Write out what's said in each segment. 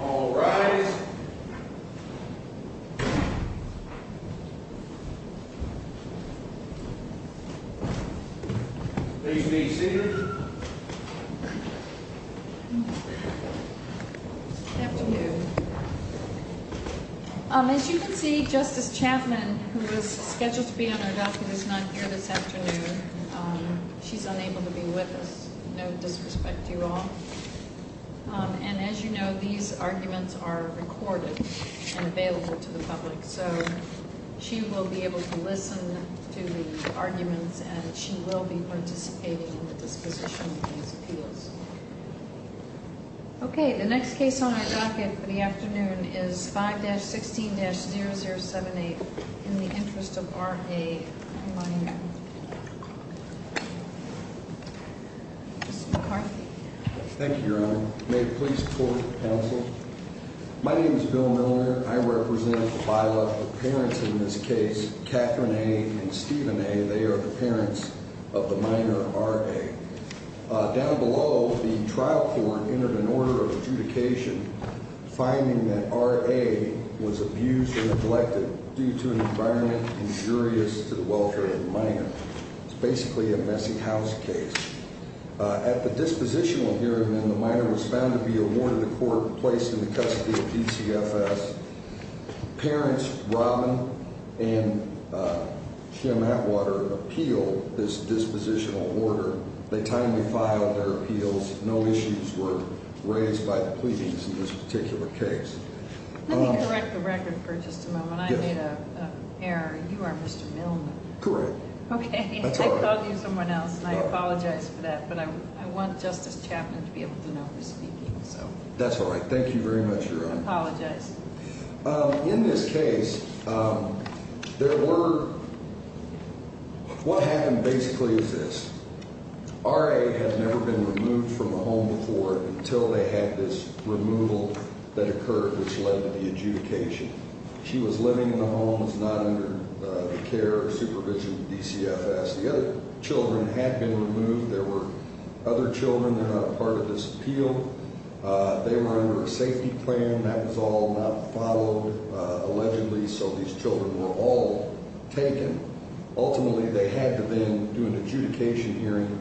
All right. Yeah. Please be seated. Afternoon. As you can see, Justice Chapman, who was scheduled to be on our doctor, is not here this afternoon. She's unable to be with us. No disrespect to you all. And as you know, these arguments are recorded and available to the public, so she will be able to listen to the arguments and she will be participating in the disposition of these appeals. Okay, the next case on my docket for the afternoon is 5-16-0078 in the interest of R.A. Ms. McCarthy. Thank you, Your Honor. May it please the court and counsel. My name is Bill Miller. I represent a bylaw for parents in this case, Catherine A. and Stephen A. They are the parents of the minor R.A. Down below, the trial court entered an order of adjudication finding that R.A. was abused and neglected due to an environment injurious to the welfare of the minor. It's basically a messy house case. At the dispositional hearing, the minor was found to be awarded a court place in the custody of PCFS. Parents Robin and Jim Atwater appealed this dispositional order. They timely filed their appeals. No issues were raised by the pleadings in this particular case. Let me correct the record for just a moment. I made an error. You are Mr. Millman. Correct. Okay. I called you someone else, and I apologize for that. But I want Justice Chapman to be able to know who's speaking. That's all right. Thank you very much, Your Honor. I apologize. In this case, there were – what happened basically is this. R.A. had never been removed from the home before until they had this removal that occurred, which led to the adjudication. She was living in the home. It's not under the care or supervision of DCFS. The other children had been removed. There were other children that are not part of this appeal. They were under a safety plan. That was all not followed allegedly, so these children were all taken. Ultimately, they had to then do an adjudication hearing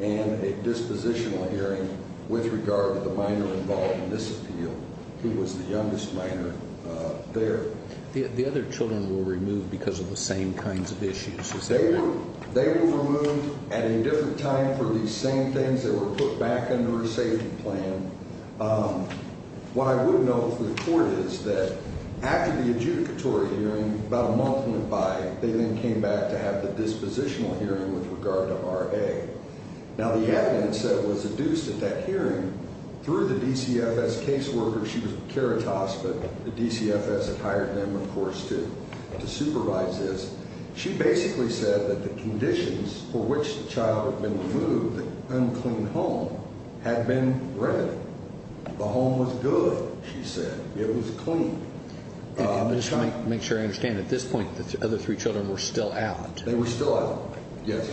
and a dispositional hearing with regard to the minor involved in this appeal, who was the youngest minor there. The other children were removed because of the same kinds of issues, is that right? They were removed at a different time for these same things that were put back under a safety plan. What I would note for the court is that after the adjudicatory hearing, about a month went by, they then came back to have the dispositional hearing with regard to R.A. Now, the evidence that was adduced at that hearing through the DCFS caseworker, she was with Caritas, but the DCFS had hired them, of course, to supervise this. She basically said that the conditions for which the child had been removed, the unclean home, had been remedied. The home was good, she said. It was clean. And just to make sure I understand, at this point, the other three children were still out. They were still out, yes.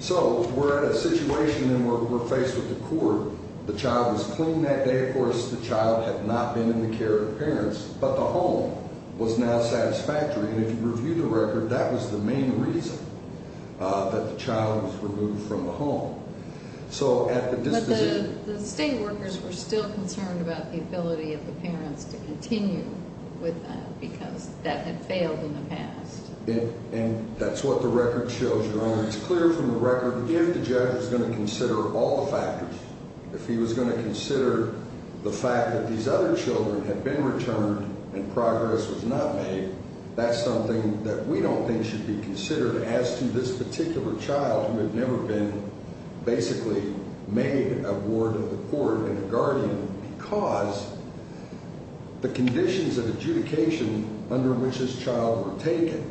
So we're at a situation where we're faced with the court. The child was clean that day, of course. The child had not been in the care of the parents, but the home was now satisfactory. And if you review the record, that was the main reason that the child was removed from the home. But the state workers were still concerned about the ability of the parents to continue with them because that had failed in the past. And that's what the record shows, Your Honor. And it's clear from the record, if the judge was going to consider all the factors, if he was going to consider the fact that these other children had been returned and progress was not made, that's something that we don't think should be considered as to this particular child who had never been basically made a ward of the court and a guardian because the conditions of adjudication under which this child were taken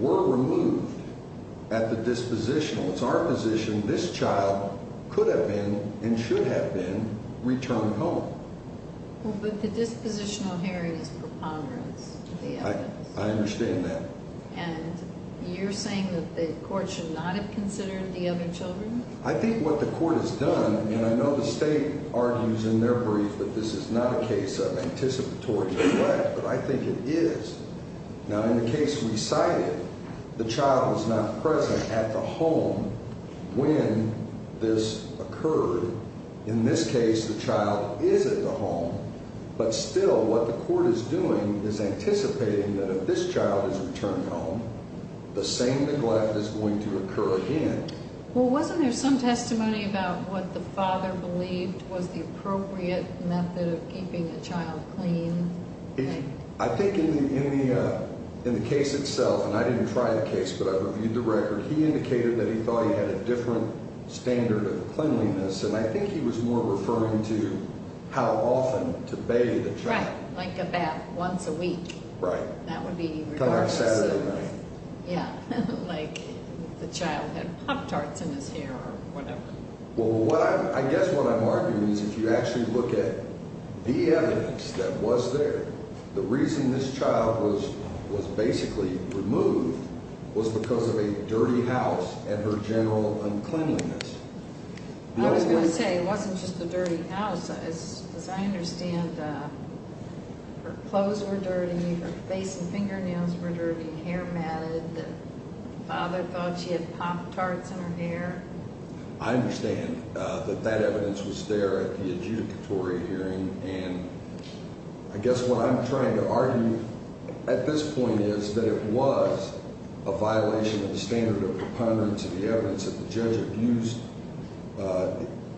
were removed at the dispositional. It's our position this child could have been and should have been returned home. Well, but the dispositional here is preponderance of the evidence. I understand that. And you're saying that the court should not have considered the other children? I think what the court has done, and I know the state argues in their brief that this is not a case of anticipatory neglect, but I think it is. Now, in the case we cited, the child was not present at the home when this occurred. In this case, the child is at the home. But still, what the court is doing is anticipating that if this child is returned home, the same neglect is going to occur again. Well, wasn't there some testimony about what the father believed was the appropriate method of keeping a child clean? I think in the case itself, and I didn't try the case, but I reviewed the record, he indicated that he thought he had a different standard of cleanliness, and I think he was more referring to how often to bathe a child. Right, like a bath once a week. Right. That would be regardless. Kind of like Saturday night. Yeah, like the child had Pop-Tarts in his hair or whatever. Well, I guess what I'm arguing is if you actually look at the evidence that was there, the reason this child was basically removed was because of a dirty house and her general uncleanliness. I was going to say it wasn't just the dirty house. As I understand, her clothes were dirty, her face and fingernails were dirty, hair matted. The father thought she had Pop-Tarts in her hair. I understand that that evidence was there at the adjudicatory hearing, and I guess what I'm trying to argue at this point is that it was a violation of the standard of preponderance of the evidence that the judge abused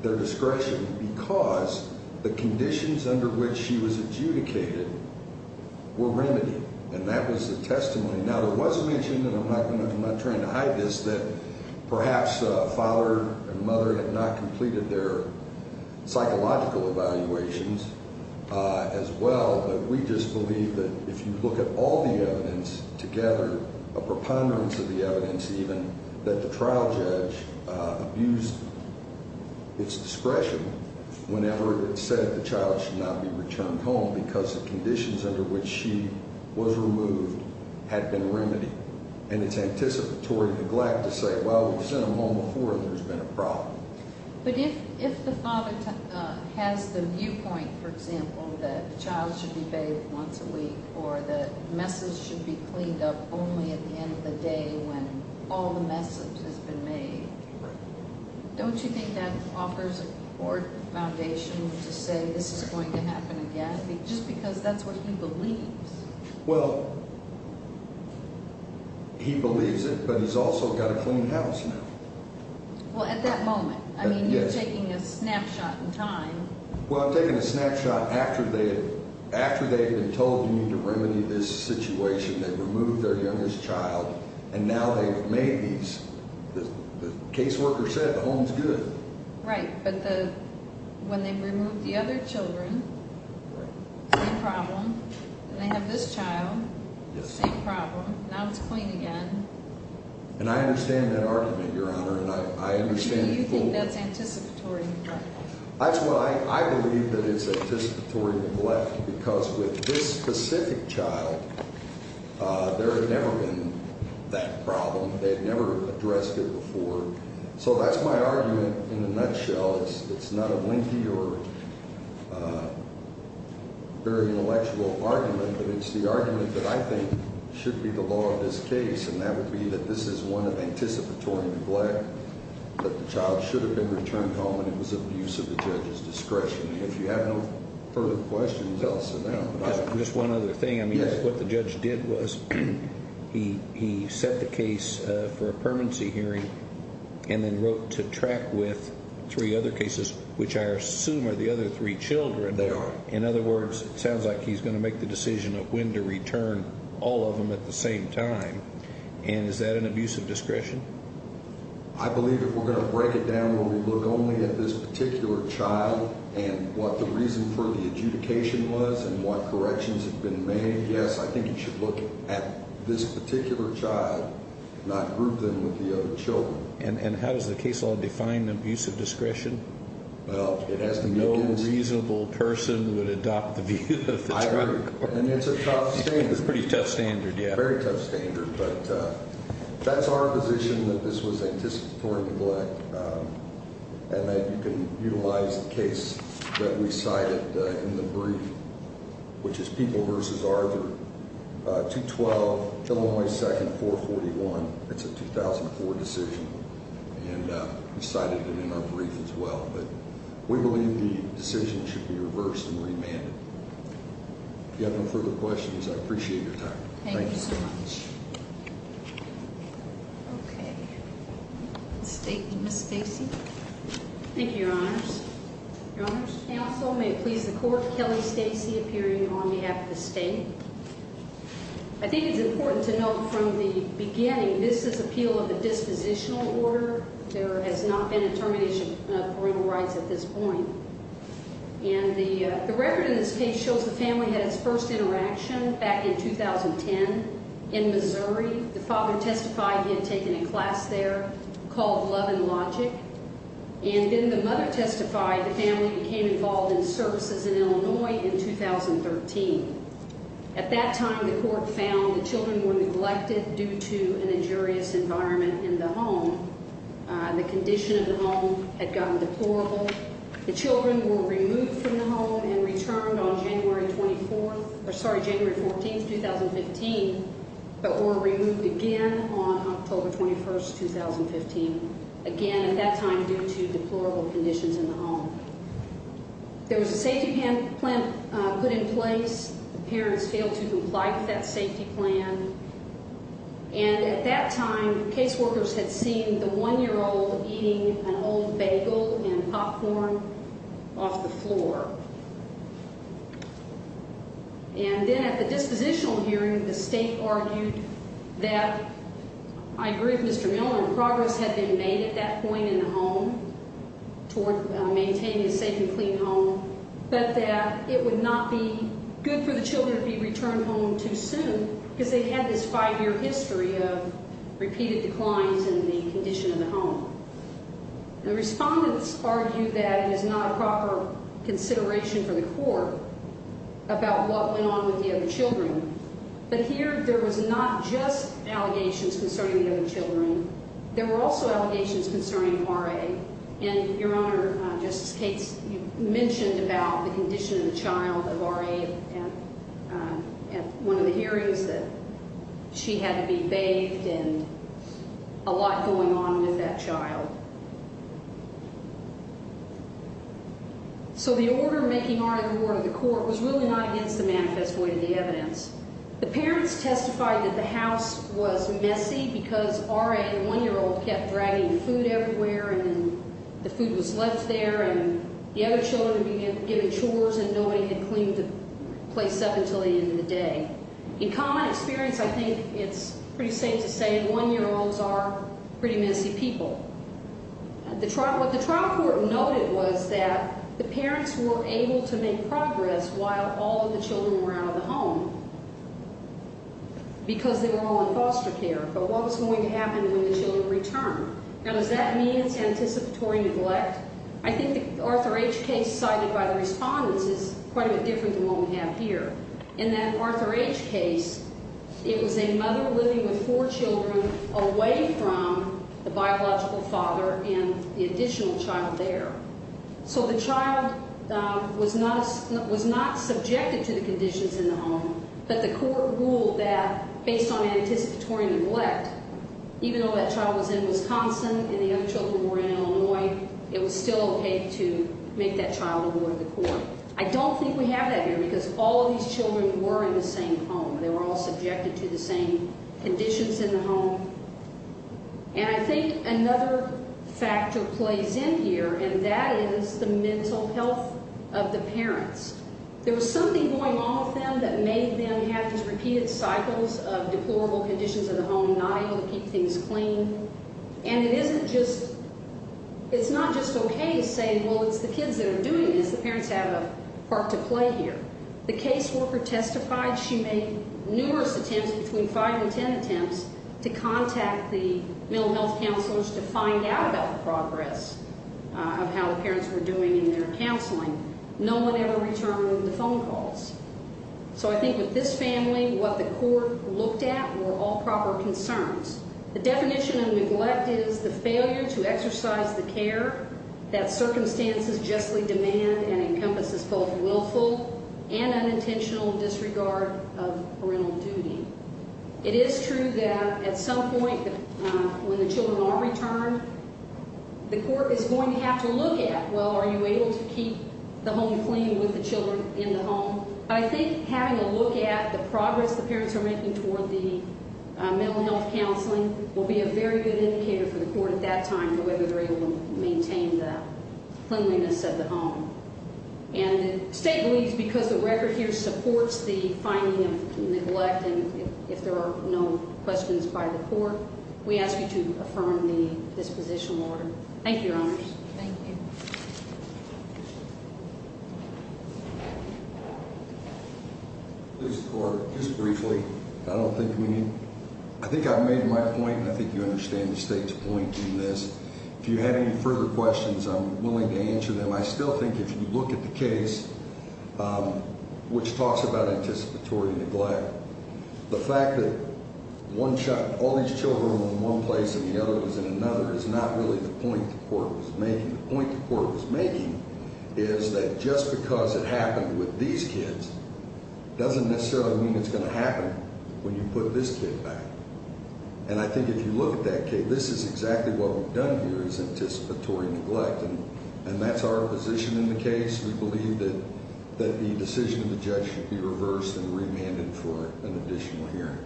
their discretion because the conditions under which she was adjudicated were remedied, and that was the testimony. Now, there was a mention, and I'm not trying to hide this, that perhaps father and mother had not completed their psychological evaluations as well, but we just believe that if you look at all the evidence together, a preponderance of the evidence even, that the trial judge abused its discretion whenever it said the child should not be returned home because the conditions under which she was removed had been remedied, and it's anticipatory neglect to say, well, we've sent them home before and there's been a problem. But if the father has the viewpoint, for example, that the child should be bathed once a week or the messes should be cleaned up only at the end of the day when all the messes have been made, don't you think that offers a court foundation to say this is going to happen again just because that's what he believes? Well, he believes it, but he's also got a clean house now. Well, at that moment. I mean, you're taking a snapshot in time. Well, I'm taking a snapshot after they had been told to remedy this situation. They removed their youngest child, and now they've made these. The caseworker said the home's good. Right, but when they removed the other children, same problem. They have this child, same problem. Now it's clean again. And I understand that argument, Your Honor, and I understand it fully. You think that's anticipatory neglect? That's what I believe, that it's anticipatory neglect, because with this specific child, there had never been that problem. They had never addressed it before. So that's my argument in a nutshell. It's not a lengthy or very intellectual argument, but it's the argument that I think should be the law of this case, and that would be that this is one of anticipatory neglect, that the child should have been returned home, and it was abuse of the judge's discretion. If you have no further questions, I'll sit down. Just one other thing. I mean, what the judge did was he set the case for a permanency hearing and then wrote to track with three other cases, which I assume are the other three children. They are. In other words, it sounds like he's going to make the decision of when to return all of them at the same time, and is that an abuse of discretion? I believe if we're going to break it down where we look only at this particular child and what the reason for the adjudication was and what corrections have been made, yes, I think you should look at this particular child, not group them with the other children. And how does the case law define abuse of discretion? No reasonable person would adopt the view of the trial court. And it's a tough standard. It's a pretty tough standard, yes. A very tough standard, but that's our position that this was anticipatory neglect, and that you can utilize the case that we cited in the brief, which is People v. Arger, 212, Illinois 2nd, 441. It's a 2004 decision, and we cited it in our brief as well. But we believe the decision should be reversed and remanded. If you have no further questions, I appreciate your time. Thank you so much. Thank you so much. Okay. State, Ms. Stacy. Thank you, Your Honors. Your Honors. Counsel, may it please the Court, Kelly Stacy appearing on behalf of the State. I think it's important to note from the beginning this is appeal of a dispositional order. There has not been a termination of parental rights at this point. And the record in this case shows the family had its first interaction back in 2010 in Missouri. The father testified he had taken a class there called Love and Logic. And then the mother testified the family became involved in services in Illinois in 2013. At that time, the court found the children were neglected due to an injurious environment in the home. The condition of the home had gotten deplorable. The children were removed from the home and returned on January 24th or, sorry, January 14th, 2015, but were removed again on October 21st, 2015. Again, at that time, due to deplorable conditions in the home. There was a safety plan put in place. The parents failed to comply with that safety plan. And at that time, caseworkers had seen the one-year-old eating an old bagel and popcorn off the floor. And then at the dispositional hearing, the state argued that, I agree with Mr. Miller, progress had been made at that point in the home toward maintaining a safe and clean home, but that it would not be good for the children to be returned home too soon because they had this five-year history of repeated declines in the condition of the home. The respondents argued that it is not a proper consideration for the court about what went on with the other children. But here, there was not just allegations concerning the other children. There were also allegations concerning R.A. And, Your Honor, Justice Cates, you mentioned about the condition of the child of R.A. at one of the hearings that she had to be bathed and a lot going on with that child. So the order making R.A. the ward of the court was really not against the manifest way of the evidence. The parents testified that the house was messy because R.A. and the one-year-old kept dragging food everywhere and the food was left there and the other children began giving chores and nobody had cleaned the place up until the end of the day. In common experience, I think it's pretty safe to say one-year-olds are pretty messy people. What the trial court noted was that the parents were able to make progress while all of the children were out of the home because they were all in foster care. But what was going to happen when the children returned? Now, does that mean it's anticipatory neglect? I think the Arthur H. case cited by the respondents is quite a bit different than what we have here. In that Arthur H. case, it was a mother living with four children away from the biological father and the additional child there. So the child was not subjected to the conditions in the home, but the court ruled that based on anticipatory neglect, even though that child was in Wisconsin and the other children were in Illinois, it was still okay to make that child a ward of the court. I don't think we have that here because all of these children were in the same home. They were all subjected to the same conditions in the home. And I think another factor plays in here, and that is the mental health of the parents. There was something going on with them that made them have these repeated cycles of deplorable conditions in the home, not able to keep things clean. And it isn't just – it's not just okay to say, well, it's the kids that are doing this. The parents have a part to play here. The caseworker testified she made numerous attempts, between five and ten attempts, to contact the mental health counselors to find out about the progress of how the parents were doing in their counseling. No one ever returned the phone calls. So I think with this family, what the court looked at were all proper concerns. The definition of neglect is the failure to exercise the care that circumstances justly demand and encompasses both willful and unintentional disregard of parental duty. It is true that at some point when the children are returned, the court is going to have to look at, well, are you able to keep the home clean with the children in the home? I think having a look at the progress the parents are making toward the mental health counseling will be a very good indicator for the court at that time to whether they're able to maintain the cleanliness of the home. And the state believes because the record here supports the finding of neglect, and if there are no questions by the court, we ask you to affirm the disposition order. Thank you, Your Honors. Thank you. Please, the court, just briefly. I don't think we need – I think I've made my point, and I think you understand the state's point in this. If you have any further questions, I'm willing to answer them. I still think if you look at the case, which talks about anticipatory neglect, the fact that one shot all these children in one place and the other was in another is not really the point the court was making. The point the court was making is that just because it happened with these kids doesn't necessarily mean it's going to happen when you put this kid back. And I think if you look at that case, this is exactly what we've done here is anticipatory neglect, and that's our position in the case. We believe that the decision of the judge should be reversed and remanded for an additional hearing.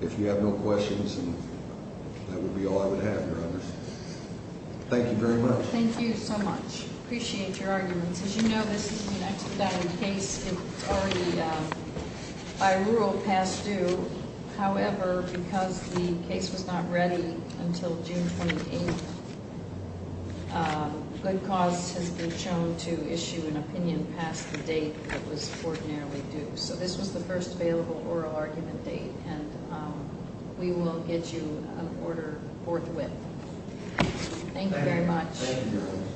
If you have no questions, that would be all I would have, Your Honors. Thank you very much. Thank you so much. Appreciate your arguments. As you know, this is a 1999 case. It's already by rule past due. However, because the case was not ready until June 28th, good cause has been shown to issue an opinion past the date that was ordinarily due. So this was the first available oral argument date, and we will get you an order forthwith. Thank you very much. Thank you.